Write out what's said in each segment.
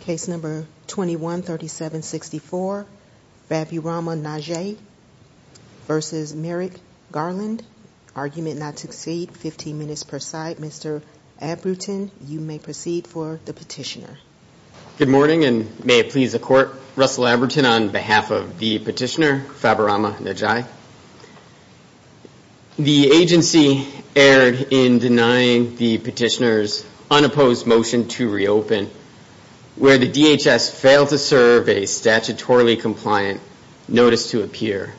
Case number 21-37-64 Faburama Njai v. Merrick Garland. Argument not to exceed 15 minutes per side. Mr. Abrutin you may proceed for the petitioner. Good morning and may it please the court. Russell Abrutin on behalf of the petitioner Faburama Njai. The agency erred in denying the petitioner's unopposed motion to reopen where the DHS failed to serve a statutorily compliant notice to appear.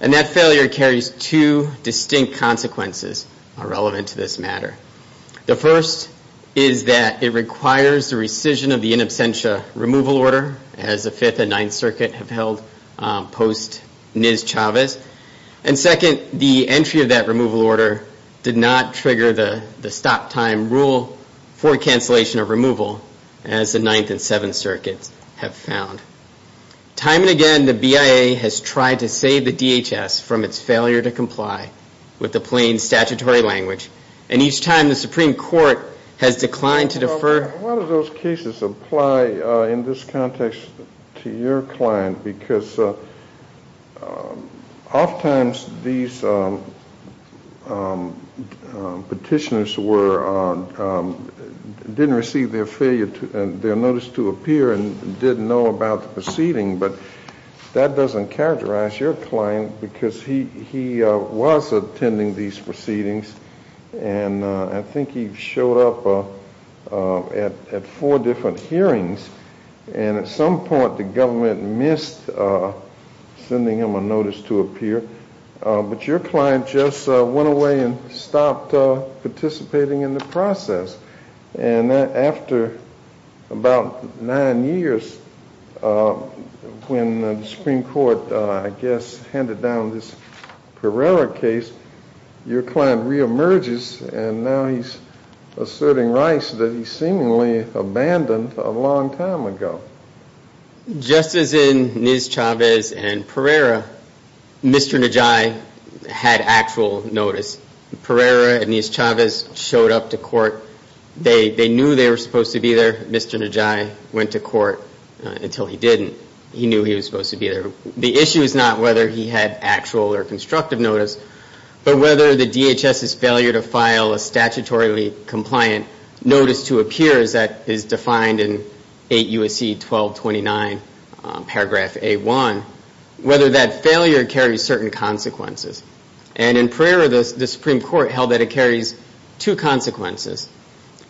And that failure carries two distinct consequences relevant to this matter. The first is that it requires the rescission of the in absentia removal order as the 5th and 9th Circuit have held post NIS Chavez. And second, the entry of that removal order did not trigger the stop time rule for cancellation of removal as the 9th and 7th Circuits have found. Time and again the BIA has tried to save the DHS from its failure to comply with the plain statutory language. And each time the Supreme Court has declined to defer. A lot of those cases apply in this context to your client because oft times these petitioners didn't receive their notice to appear and didn't know about the proceeding. But that doesn't characterize your client because he was attending these proceedings and I think he showed up at four different hearings and at some point the government missed sending him a notice to appear. But your client just went away and stopped participating in the process. And after about nine years when the Supreme Court I guess handed down this Pereira case, your client re-emerges and now he's asserting rights that he seemingly abandoned a long time ago. Just as in NIS Chavez and Pereira, Mr. Najai had actual notice. Pereira and NIS Chavez showed up to court. They knew they were supposed to be there. Mr. Najai went to court until he didn't. He knew he was supposed to be there. The issue is not whether he had actual or constructive notice, but whether the file, a statutorily compliant notice to appear as that is defined in 8 U.S.C. 1229 paragraph A-1, whether that failure carries certain consequences. And in Pereira, the Supreme Court held that it carries two consequences.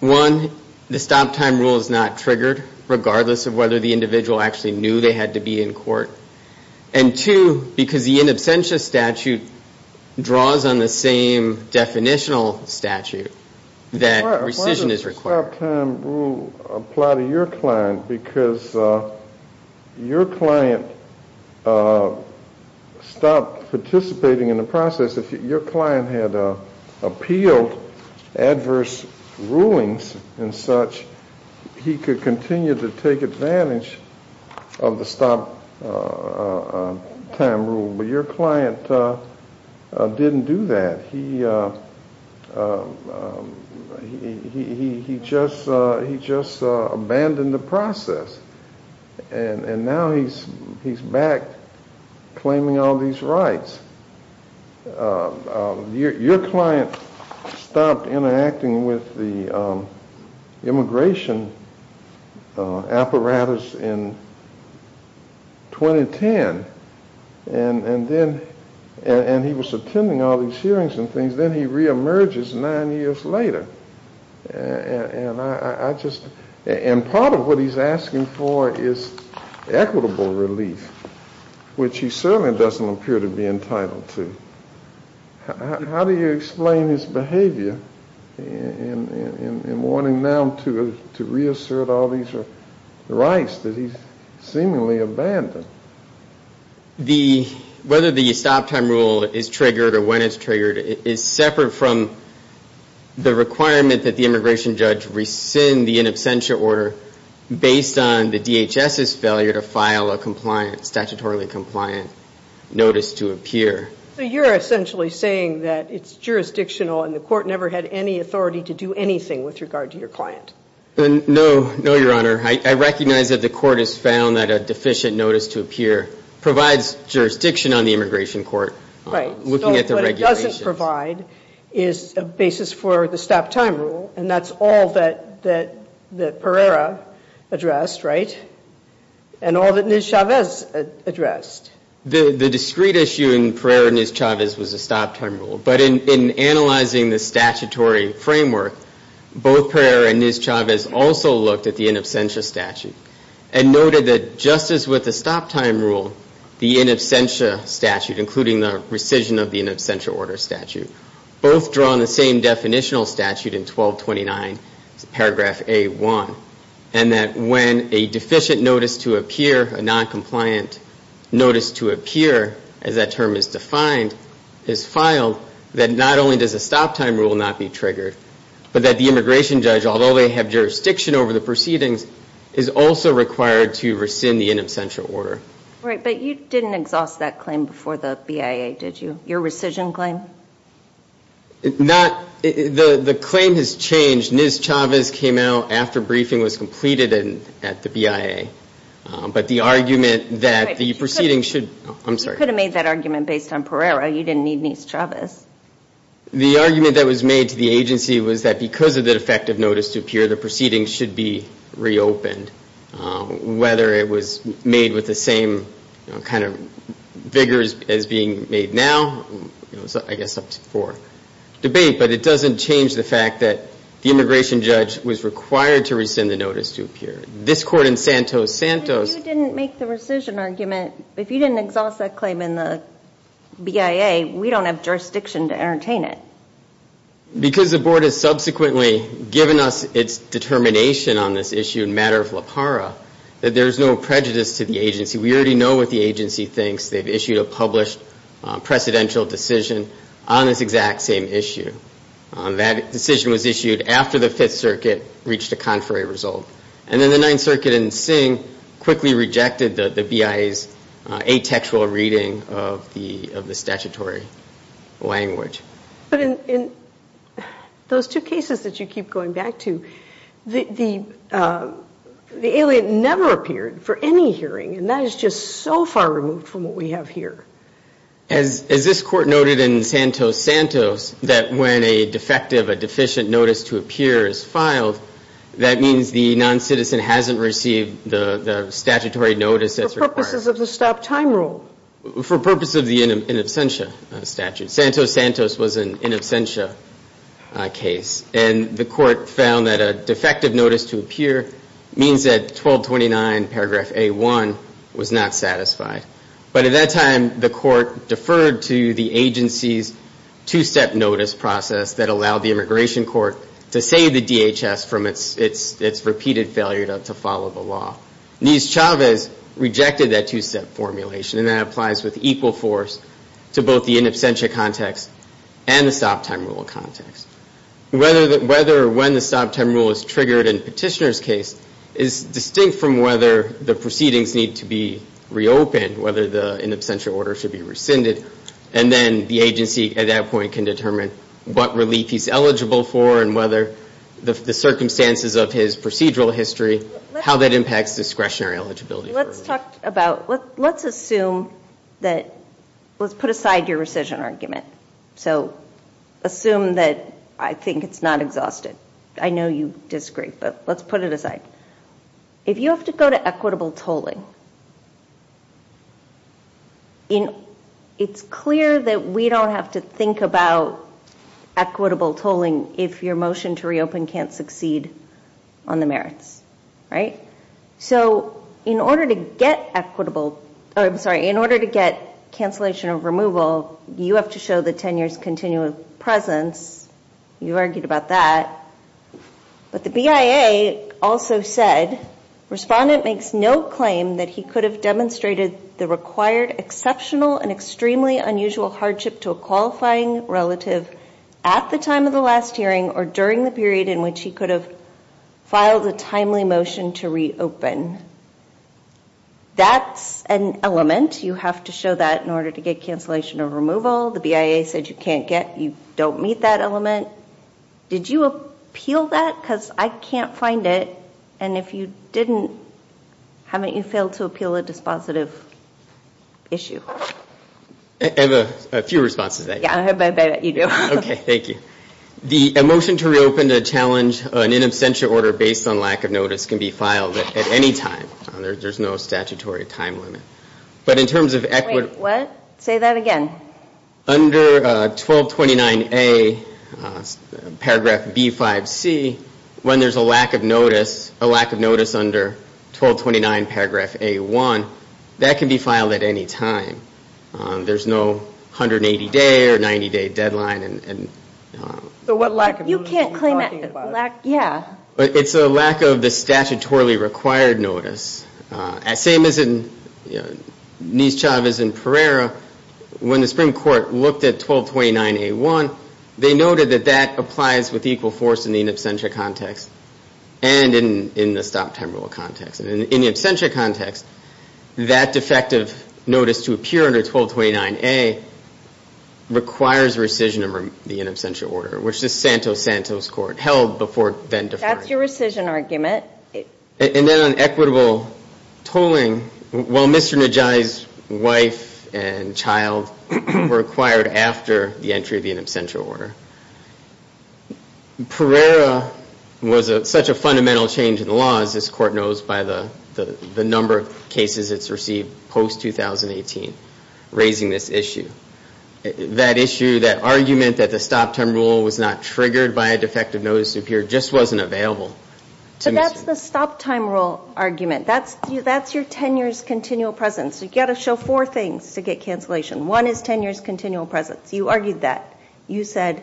One, the stop time rule is not triggered regardless of whether the individual actually knew they had to be in court. And two, because the in absentia statute draws on the same definitional statute that rescission is required. Why does the stop time rule apply to your client? Because your client stopped participating in the process. If your client had appealed adverse rulings and such, he could continue to take advantage of the stop time rule. But your client didn't do that. He just abandoned the process. And now he's back claiming all these rights. Your client stopped interacting with the immigration apparatus in 2010. And then, and he was attending all these hearings and things. Then he reemerges nine years later. And I just, and part of what he's asking for is equitable relief, which he certainly doesn't appear to be entitled to. How do you explain his behavior in wanting now to reassert all these rights that he's seemingly abandoned? The, whether the stop time rule is triggered or when it's triggered is separate from the requirement that the DHS's failure to file a compliant, statutorily compliant notice to appear. So you're essentially saying that it's jurisdictional and the court never had any authority to do anything with regard to your client? No, no, Your Honor. I recognize that the court has found that a deficient notice to appear provides jurisdiction on the immigration court. Right. Looking at the regulations. is a basis for the stop time rule. And that's all that, that, that Pereira addressed, right? And all that Ms. Chavez addressed. The, the discrete issue in Pereira and Ms. Chavez was a stop time rule. But in, in analyzing the statutory framework, both Pereira and Ms. Chavez also looked at the in absentia statute and noted that just as with the stop time rule, the in absentia statute, including the rescission of the in absentia order statute, both drawn the same definitional statute in 1229, paragraph A1. And that when a deficient notice to appear, a non-compliant notice to appear, as that term is defined, is filed, that not only does a stop time rule not be triggered, but that the immigration judge, although they have jurisdiction over the proceedings, is also required to rescind the in absentia order. Right. But you didn't exhaust that claim before the BIA, did you? Your rescission claim? Not, the, the claim has changed. Ms. Chavez came out after briefing was completed at, at the BIA. But the argument that the proceedings should, I'm sorry. You could have made that argument based on Pereira. You didn't need Ms. Chavez. The argument that was made to the agency was that because of the defective notice to appear, the proceedings should be of the same kind of vigor as being made now, I guess up to four, debate. But it doesn't change the fact that the immigration judge was required to rescind the notice to appear. This court in Santos, Santos. But if you didn't make the rescission argument, if you didn't exhaust that claim in the BIA, we don't have jurisdiction to entertain it. Because the board has subsequently given us its determination on this issue in matter of lapara, that there's no prejudice to the agency. We already know what the agency thinks. They've issued a published precedential decision on this exact same issue. That decision was issued after the Fifth Circuit reached a contrary result. And then the Ninth Circuit in Singh quickly rejected the, the BIA's atextual reading of the, of the statutory language. But in, in those two cases that you keep going back to, the, the, the alien never appeared for any hearing. And that is just so far removed from what we have here. As, as this court noted in Santos, Santos, that when a defective, a deficient notice to appear is filed, that means the non-citizen hasn't received the, the statutory notice that's required. For purposes of the stop time rule. For purposes of the in absentia statute. Santos, Santos was an in absentia case. And the court found that a defective notice to appear means that 1229 paragraph A1 was not satisfied. But at that time, the court deferred to the agency's two-step notice process that allowed the immigration court to save the DHS from its, its, its repeated failure to follow the law. Nis Chavez rejected that two-step formulation. And that applies with equal force to both the in absentia context and the stop time rule context. Whether, whether or when the stop time rule is triggered in Petitioner's case is distinct from whether the proceedings need to be reopened, whether the in absentia order should be rescinded. And then the agency at that point can determine what relief he's eligible for and whether the, the circumstances of his procedural history, how that impacts discretionary eligibility. Let's talk about, let's assume that, let's put aside your rescission argument. So assume that I think it's not exhausted. I know you disagree, but let's put it aside. If you have to go to equitable tolling, it's clear that we don't have to think about equitable tolling if your motion to reopen can't succeed on the merits, right? So in order to get equitable, I'm sorry, in order to get cancellation of removal, you have to show the tenure's continual presence. You argued about that. But the BIA also said, respondent makes no claim that he could have demonstrated the required exceptional and extremely unusual hardship to a qualifying relative at the time of the last hearing or during the period in which he could have filed a timely motion to reopen. That's an element. You have to show that in order to get cancellation of removal. The BIA said you can't get, you don't meet that element. Did you appeal that? Because I can't find it. And if you didn't, haven't you failed to appeal a dispositive issue? I have a few responses to that. Yeah, I bet you do. Okay, thank you. The motion to reopen to challenge an inabstential order based on lack of notice can be filed at any time. There's no statutory time limit. But in terms of equity. Wait, what? Say that again. Under 1229A paragraph B5C, when there's a lack of notice, a lack of notice under 1229 paragraph A1, that can be filed at any time. There's no 180 day or 90 day deadline. So what lack of notice are you talking about? Yeah. It's a lack of the statutorily required notice. Same as in Nischavez and Pereira, when the Supreme Court looked at 1229A1, they noted that that applies with equal force in the inabstential context and in the stopped temporal context. In the absentia context, that defective notice to appear under 1229A requires rescission of the inabstential order, which the Santos-Santos Court held before then deferred. That's your rescission argument. And then on equitable tolling, while Mr. Nischavez's wife and child were acquired after the entry of the inabstential order, Pereira was such a fundamental change in the laws, as this Court knows, by the number of cases it's received post-2018, raising this issue. That issue, that argument that the stopped temporal was not triggered by a defective notice to appear, just wasn't available. So that's the stopped temporal argument. That's your tenure's continual presence. You've got to show four things to get cancellation. One is tenure's continual presence. You argued that. You said,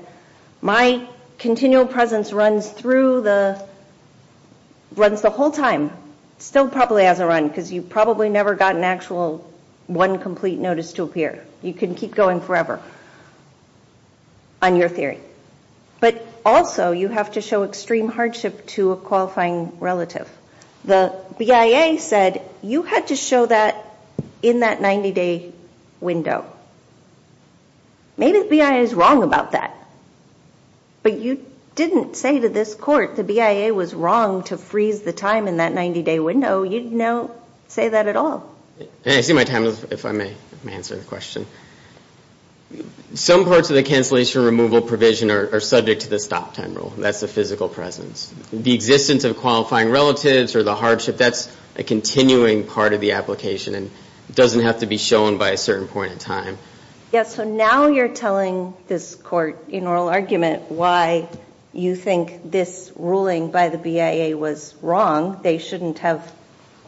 my continual presence runs the whole time, still probably has a run, because you probably never got an actual one complete notice to appear. You can keep going forever on your theory. But also, you have to show extreme hardship to a qualifying relative. The BIA said you had to show that in that 90-day window. Maybe the BIA is wrong about that. But you didn't say to this Court the BIA was wrong to freeze the time in that 90-day window. You didn't say that at all. I see my time is up, if I may answer the question. Some parts of the cancellation removal provision are subject to the stopped temporal. That's the physical presence. The existence of qualifying relatives or the hardship, that's a continuing part of the application and doesn't have to be shown by a certain point in time. Yes, so now you're telling this Court in oral argument why you think this ruling by the BIA was wrong. They shouldn't have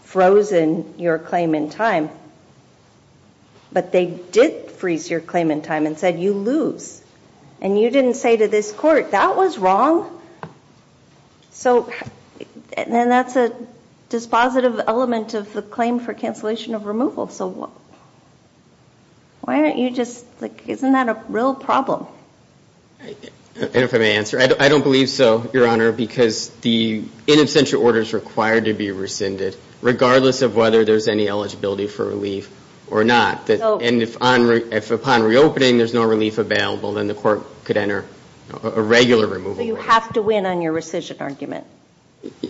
frozen your claim in time. But they did freeze your claim in time and said you lose. And you didn't say to this Court that was wrong. So then that's a dispositive element of the claim for cancellation of removal. So why don't you just, like, isn't that a real problem? And if I may answer, I don't believe so, Your Honor, because the in absentia order is required to be rescinded, regardless of whether there's any eligibility for relief or not. And if upon reopening there's no relief available, then the Court could enter a regular removal order. So you have to win on your rescission argument?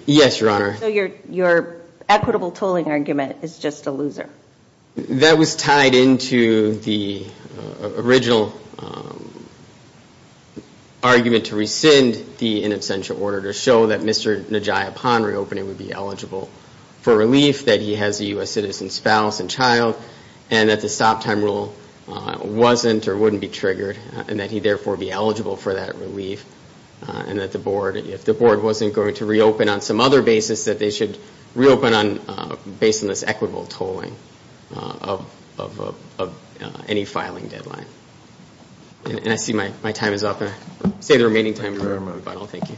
Yes, Your Honor. So your equitable tolling argument is just a loser? That was tied into the original argument to rescind the in absentia order to show that Mr. Najia, upon reopening, would be eligible for relief, that he has a U.S. citizen spouse and child, and that the stop time rule wasn't or wouldn't be triggered, and that he, therefore, would be eligible for that relief, and that the Board, if the Board wasn't going to reopen on some other basis, that they should reopen based on this equitable tolling of any filing deadline. And I see my time is up. I'm going to save the remaining time for my final. Thank you.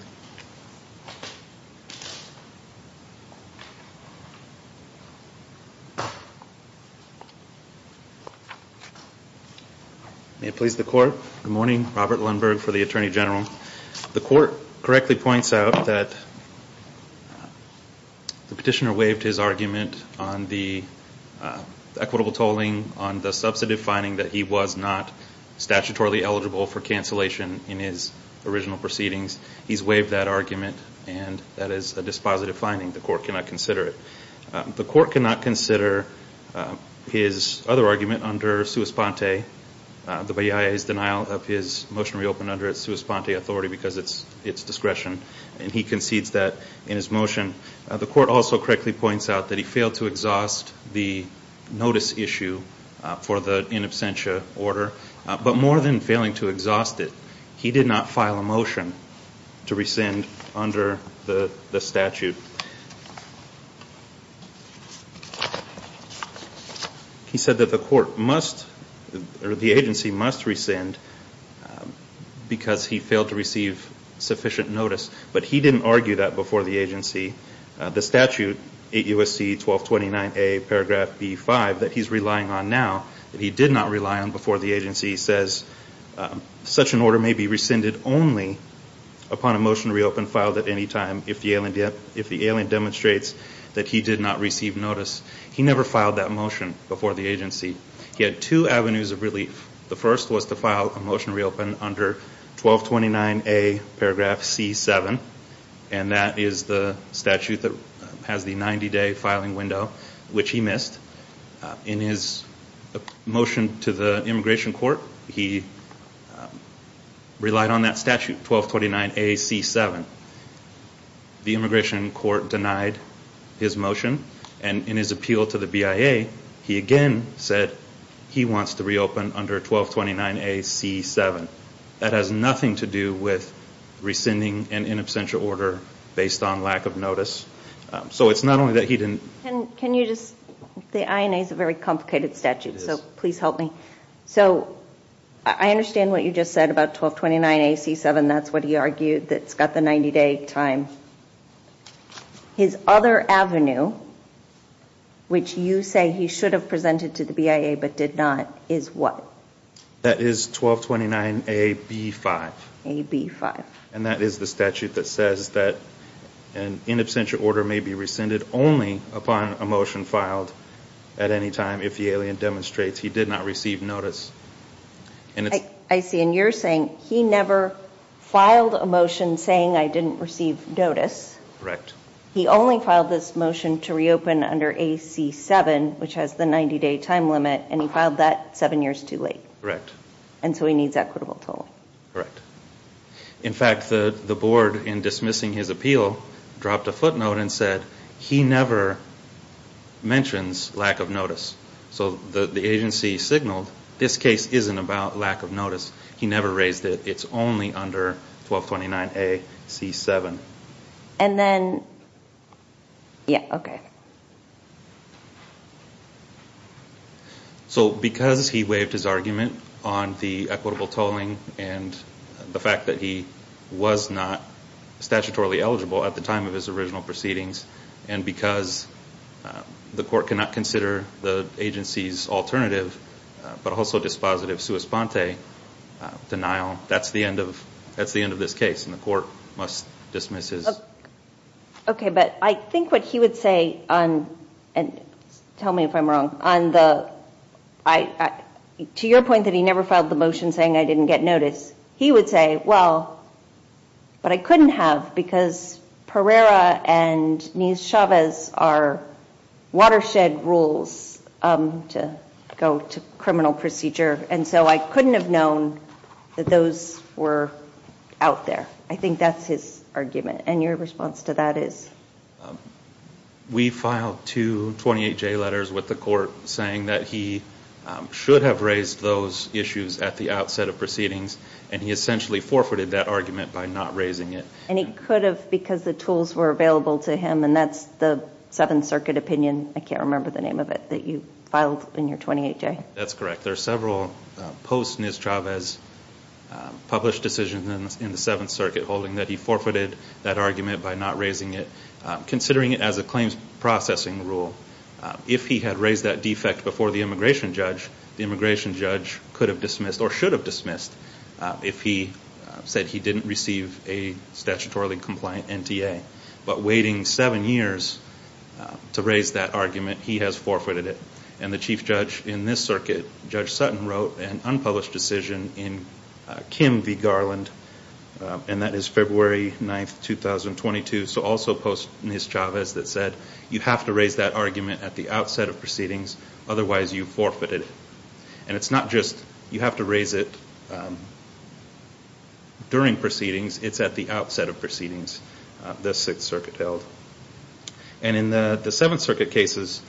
May it please the Court. Good morning. Robert Lundberg for the Attorney General. The Court correctly points out that the Petitioner waived his argument on the equitable tolling, on the substantive finding that he was not statutorily eligible for cancellation in his original proceedings. He's waived that argument, and that is a dispositive finding. The Court cannot consider it. The Court cannot consider his other argument under sua sponte, the BIA's denial of his motion to reopen under its sua sponte authority because it's discretion, and he concedes that in his motion. The Court also correctly points out that he failed to exhaust the notice issue for the in absentia order, but more than failing to exhaust it, he did not file a motion to rescind under the statute. He said that the Court must, or the agency must rescind because he failed to receive sufficient notice, but he didn't argue that before the agency. The statute, 8 U.S.C. 1229A, paragraph B-5, that he's relying on now, that he did not rely on before the agency says such an order may be rescinded only upon a motion to reopen filed at any time if the alien demonstrates that he did not receive notice. He never filed that motion before the agency. He had two avenues of relief. The first was to file a motion to reopen under 1229A, paragraph C-7, and that is the statute that has the 90-day filing window, which he missed. In his motion to the Immigration Court, he relied on that statute, 1229A-C-7. The Immigration Court denied his motion, and in his appeal to the BIA, he again said he wants to reopen under 1229A-C-7. That has nothing to do with rescinding an in absentia order based on lack of notice. So it's not only that he didn't. Can you just, the INA is a very complicated statute, so please help me. So I understand what you just said about 1229A-C-7. That's what he argued that's got the 90-day time. His other avenue, which you say he should have presented to the BIA but did not, is what? That is 1229A-B-5. A-B-5. And that is the statute that says that an in absentia order may be rescinded only upon a motion filed at any time if the alien demonstrates he did not receive notice. I see, and you're saying he never filed a motion saying I didn't receive notice. Correct. He only filed this motion to reopen under 1229A-C-7, which has the 90-day time limit, and he filed that seven years too late. Correct. And so he needs equitable toll. Correct. In fact, the board, in dismissing his appeal, dropped a footnote and said he never mentions lack of notice. So the agency signaled this case isn't about lack of notice. He never raised it. It's only under 1229A-C-7. And then, yeah, okay. So because he waived his argument on the equitable tolling and the fact that he was not statutorily eligible at the time of his original proceedings and because the court cannot consider the agency's alternative but also dispositive sua sponte denial, that's the end of this case, and the court must dismiss his. Okay, but I think what he would say, and tell me if I'm wrong, to your point that he never filed the motion saying I didn't get notice, he would say, well, but I couldn't have because Pereira and Nies-Chavez are watershed rules to go to criminal procedure, and so I couldn't have known that those were out there. I think that's his argument, and your response to that is? We filed two 28-J letters with the court saying that he should have raised those issues at the outset of proceedings, and he essentially forfeited that argument by not raising it. And he could have because the tools were available to him, and that's the Seventh Circuit opinion, I can't remember the name of it, that you filed in your 28-J. That's correct. There are several post-Nies-Chavez published decisions in the Seventh Circuit holding that he forfeited that argument by not raising it, considering it as a claims processing rule. If he had raised that defect before the immigration judge, the immigration judge could have dismissed or should have dismissed if he said he didn't receive a statutorily compliant NTA. But waiting seven years to raise that argument, he has forfeited it. And the chief judge in this circuit, Judge Sutton, wrote an unpublished decision in Kim v. Garland, and that is February 9, 2022. So also post-Nies-Chavez that said you have to raise that argument at the outset of proceedings, otherwise you forfeited it. And it's not just you have to raise it during proceedings, it's at the outset of proceedings the Sixth Circuit held. And in the Seventh Circuit cases,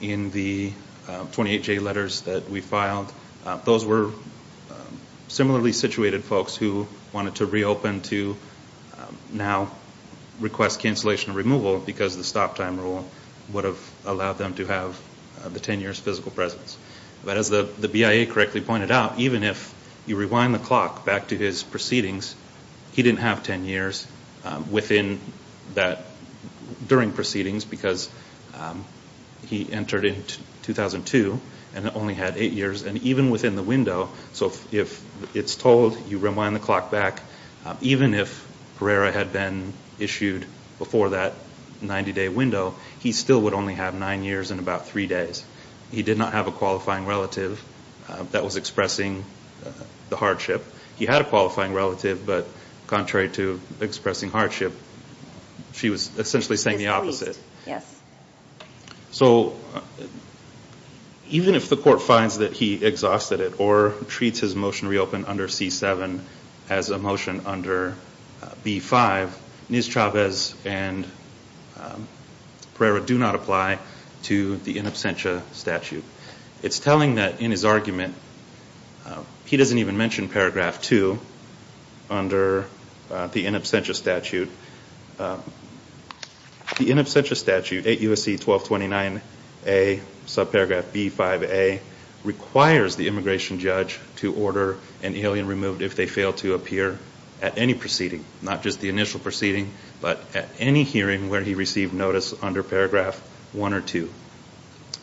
in the 28-J letters that we filed, those were similarly situated folks who wanted to reopen to now request cancellation or removal because the stop time rule would have allowed them to have the ten years physical presence. But as the BIA correctly pointed out, even if you rewind the clock back to his proceedings, he didn't have ten years during proceedings because he entered in 2002 and only had eight years. And even within the window, so if it's told you rewind the clock back, even if Pereira had been issued before that 90-day window, he still would only have nine years and about three days. He did not have a qualifying relative that was expressing the hardship. He had a qualifying relative, but contrary to expressing hardship, she was essentially saying the opposite. So even if the court finds that he exhausted it or treats his motion to reopen under C-7 as a motion under B-5, Ms. Chavez and Pereira do not apply to the in absentia statute. It's telling that in his argument, he doesn't even mention Paragraph 2 under the in absentia statute. The in absentia statute, 8 U.S.C. 1229a, subparagraph B-5a, requires the immigration judge to order an alien removed if they fail to appear at any proceeding, not just the initial proceeding, but at any hearing where he received notice under Paragraph 1 or 2.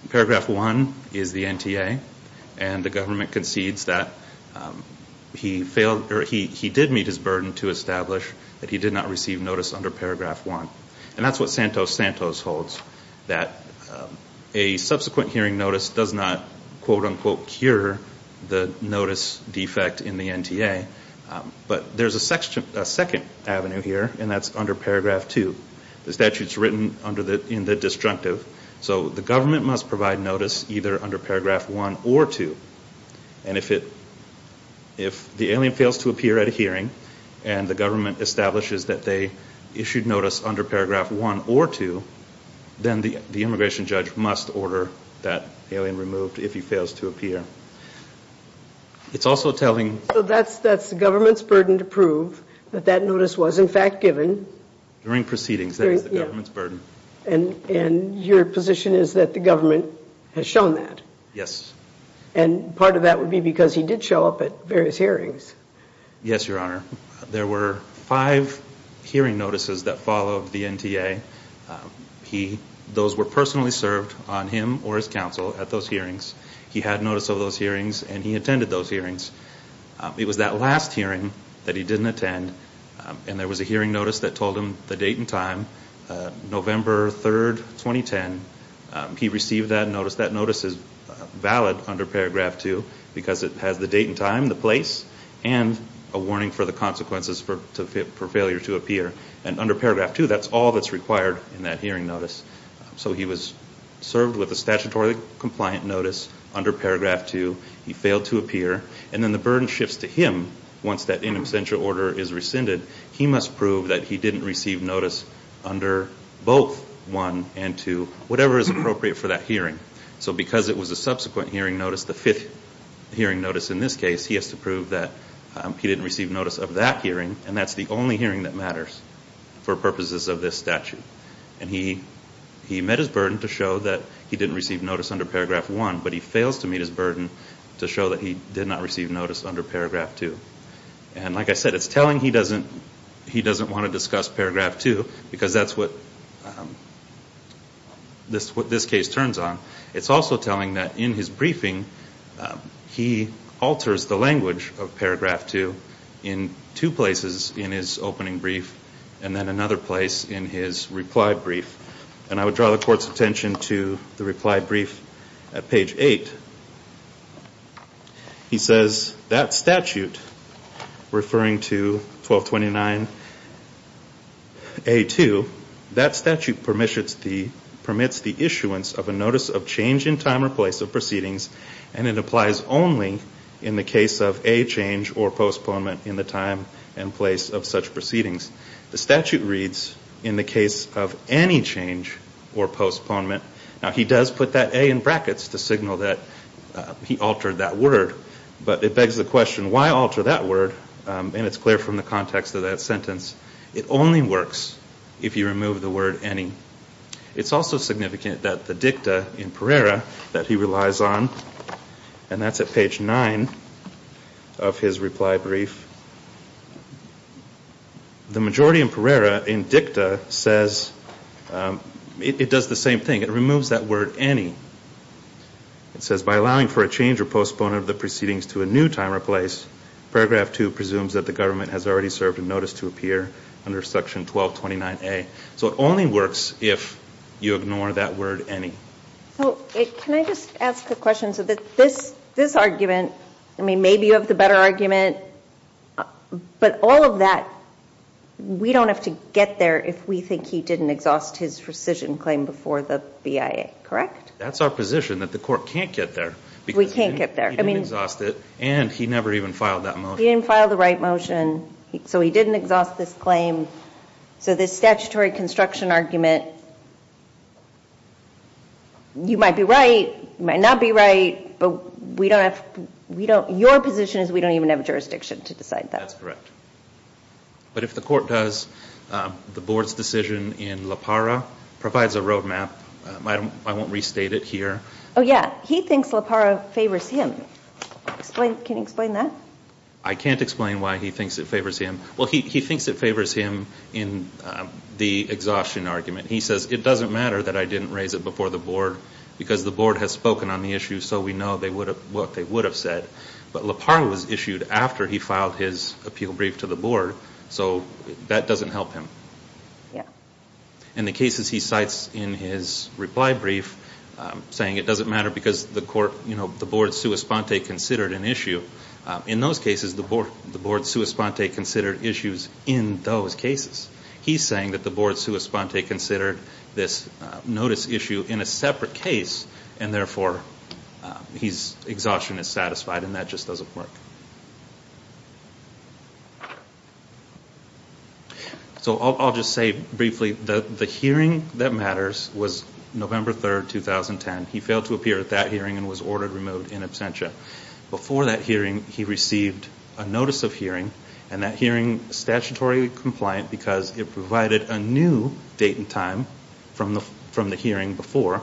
Paragraph 1 is the NTA, and the government concedes that he did meet his burden to establish that he did not receive notice under Paragraph 1. And that's what Santos-Santos holds, that a subsequent hearing notice does not, quote-unquote, cure the notice defect in the NTA. But there's a second avenue here, and that's under Paragraph 2. The statute's written in the disjunctive, so the government must provide notice either under Paragraph 1 or 2. And if the alien fails to appear at a hearing, and the government establishes that they issued notice under Paragraph 1 or 2, then the immigration judge must order that alien removed if he fails to appear. It's also telling... So that's the government's burden to prove that that notice was, in fact, given... During proceedings, that is the government's burden. And your position is that the government has shown that? Yes. And part of that would be because he did show up at various hearings. Yes, Your Honor. There were five hearing notices that followed the NTA. Those were personally served on him or his counsel at those hearings. He had notice of those hearings, and he attended those hearings. It was that last hearing that he didn't attend, and there was a hearing notice that told him the date and time, November 3, 2010. He received that notice. That notice is valid under Paragraph 2 because it has the date and time, the place, and a warning for the consequences for failure to appear. And under Paragraph 2, that's all that's required in that hearing notice. So he was served with a statutorily compliant notice under Paragraph 2. He failed to appear. And then the burden shifts to him once that in absentia order is rescinded. He must prove that he didn't receive notice under both 1 and 2, whatever is appropriate for that hearing. So because it was a subsequent hearing notice, the fifth hearing notice in this case, he has to prove that he didn't receive notice of that hearing, and that's the only hearing that matters for purposes of this statute. And he met his burden to show that he didn't receive notice under Paragraph 1, but he fails to meet his burden to show that he did not receive notice under Paragraph 2. And like I said, it's telling he doesn't want to discuss Paragraph 2 because that's what this case turns on. It's also telling that in his briefing, he alters the language of Paragraph 2 in two places in his opening brief and then another place in his reply brief. And I would draw the Court's attention to the reply brief at page 8. He says, that statute, referring to 1229A2, that statute permits the issuance of a notice of change in time or place of proceedings and it applies only in the case of a change or postponement in the time and place of such proceedings. The statute reads, in the case of any change or postponement, Now, he does put that A in brackets to signal that he altered that word, but it begs the question, why alter that word? And it's clear from the context of that sentence, it only works if you remove the word any. It's also significant that the dicta in Pereira that he relies on, and that's at page 9 of his reply brief, the majority in Pereira, in dicta, says, it does the same thing. It removes that word any. It says, by allowing for a change or postponement of the proceedings to a new time or place, Paragraph 2 presumes that the government has already served a notice to appear under Section 1229A. So it only works if you ignore that word any. Can I just ask a question? So this argument, I mean, maybe you have the better argument, but all of that, we don't have to get there if we think he didn't exhaust his rescission claim before the BIA, correct? That's our position, that the court can't get there. We can't get there. He didn't exhaust it, and he never even filed that motion. He didn't file the right motion, so he didn't exhaust this claim. So this statutory construction argument, you might be right, you might not be right, but your position is we don't even have jurisdiction to decide that. That's correct. But if the court does, the board's decision in La Parra provides a roadmap. I won't restate it here. Oh, yeah. He thinks La Parra favors him. Can you explain that? I can't explain why he thinks it favors him. Well, he thinks it favors him in the exhaustion argument. He says, it doesn't matter that I didn't raise it before the board because the board has spoken on the issue, so we know what they would have said. But La Parra was issued after he filed his appeal brief to the board, so that doesn't help him. Yeah. In the cases he cites in his reply brief, saying it doesn't matter because the board sua sponte considered an issue, in those cases the board sua sponte considered issues in those cases. He's saying that the board sua sponte considered this notice issue in a separate case, and therefore his exhaustion is satisfied, and that just doesn't work. So I'll just say briefly, the hearing that matters was November 3, 2010. He failed to appear at that hearing and was ordered removed in absentia. Before that hearing, he received a notice of hearing, and that hearing is statutory compliant because it provided a new date and time from the hearing before.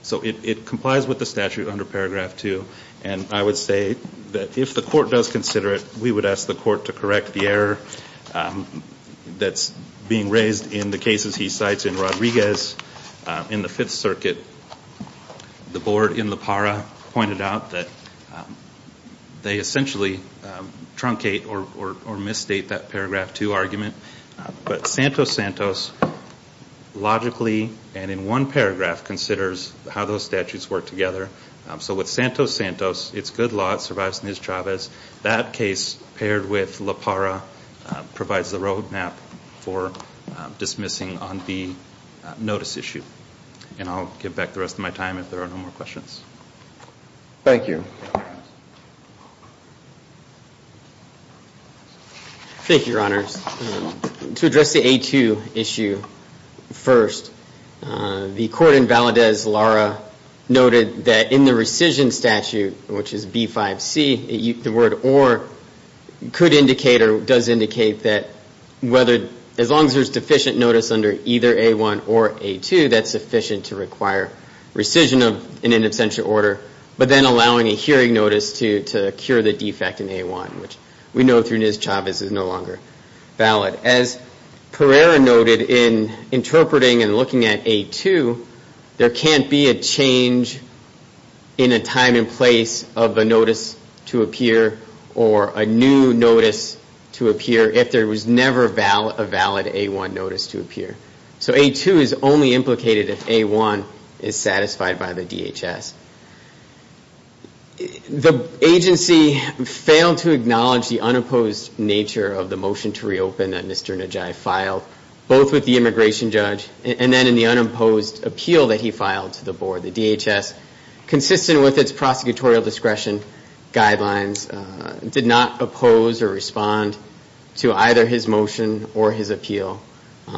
So it complies with the statute under Paragraph 2, and I would say that if the court does consider it, we would ask the court to correct the error that's being raised in the cases he cites in Rodriguez in the Fifth Circuit. The board in La Para pointed out that they essentially truncate or misstate that Paragraph 2 argument, but Santos Santos logically, and in one paragraph, considers how those statutes work together. So with Santos Santos, it's good law, it survives Ms. Chavez. That case, paired with La Para, provides the roadmap for dismissing on the notice issue. And I'll give back the rest of my time if there are no more questions. Thank you. Thank you, Your Honors. To address the A2 issue first, the court in Valadez-Lara noted that in the rescission statute, which is B5C, the word or could indicate or does indicate that as long as there's deficient notice under either A1 or A2, that's sufficient to require rescission in an absentia order, but then allowing a hearing notice to cure the defect in A1, which we know through Ms. Chavez is no longer valid. But as Pereira noted in interpreting and looking at A2, there can't be a change in a time and place of a notice to appear or a new notice to appear if there was never a valid A1 notice to appear. So A2 is only implicated if A1 is satisfied by the DHS. The agency failed to acknowledge the unopposed nature of the motion to reopen that Mr. Najai filed, both with the immigration judge and then in the unopposed appeal that he filed to the board. The DHS, consistent with its prosecutorial discretion guidelines, did not oppose or respond to either his motion or his appeal. They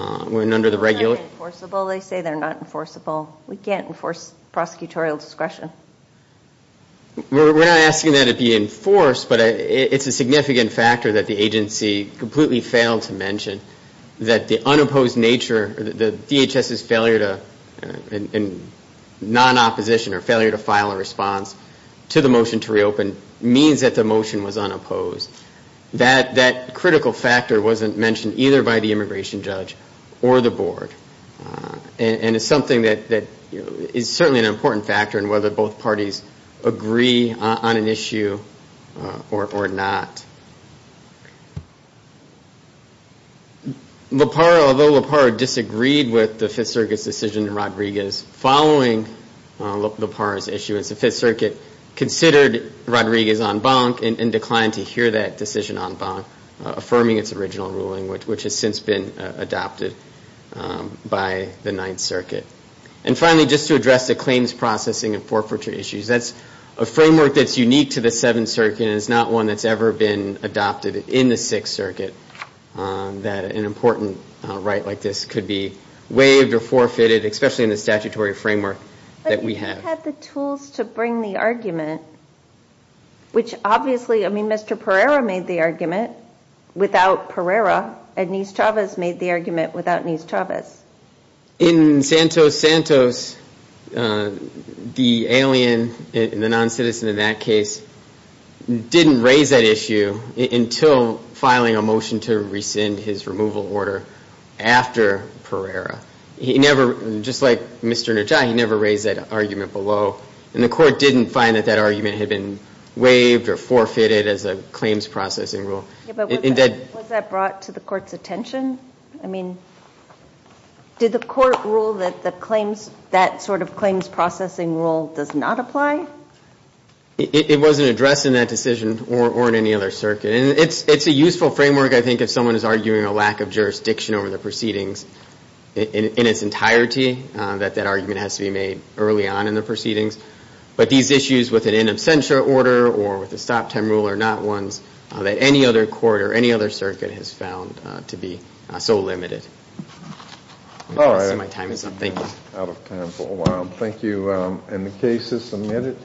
say they're not enforceable. We can't enforce prosecutorial discretion. We're not asking that it be enforced, but it's a significant factor that the agency completely failed to mention that the unopposed nature, the DHS's failure to, non-opposition or failure to file a response to the motion to reopen, means that the motion was unopposed. That critical factor wasn't mentioned either by the immigration judge or the board. And it's something that is certainly an important factor in whether both parties agree on an issue or not. Loparro, although Loparro disagreed with the Fifth Circuit's decision in Rodriguez following Loparro's issue, the Fifth Circuit considered Rodriguez en banc and declined to hear that decision en banc, affirming its original ruling, which has since been adopted by the Ninth Circuit. And finally, just to address the claims processing and forfeiture issues, that's a framework that's unique to the Seventh Circuit and is not one that's ever been adopted in the Sixth Circuit, that an important right like this could be waived or forfeited, especially in the statutory framework that we have. If you had the tools to bring the argument, which obviously, I mean, Mr. Pereira made the argument without Pereira, and Nis Chavez made the argument without Nis Chavez. In Santos Santos, the alien, the non-citizen in that case, didn't raise that issue until filing a motion to rescind his removal order after Pereira. He never, just like Mr. Najai, he never raised that argument below. And the Court didn't find that that argument had been waived or forfeited as a claims processing rule. Was that brought to the Court's attention? I mean, did the Court rule that that sort of claims processing rule does not apply? It wasn't addressed in that decision or in any other circuit. And it's a useful framework, I think, if someone is arguing a lack of jurisdiction over the proceedings in its entirety, that that argument has to be made early on in the proceedings. But these issues with an in absentia order or with a stop time rule are not ones that any other court or any other circuit has found to be so limited. I see my time is up. Thank you. Out of time for a while. Thank you. And the case is submitted.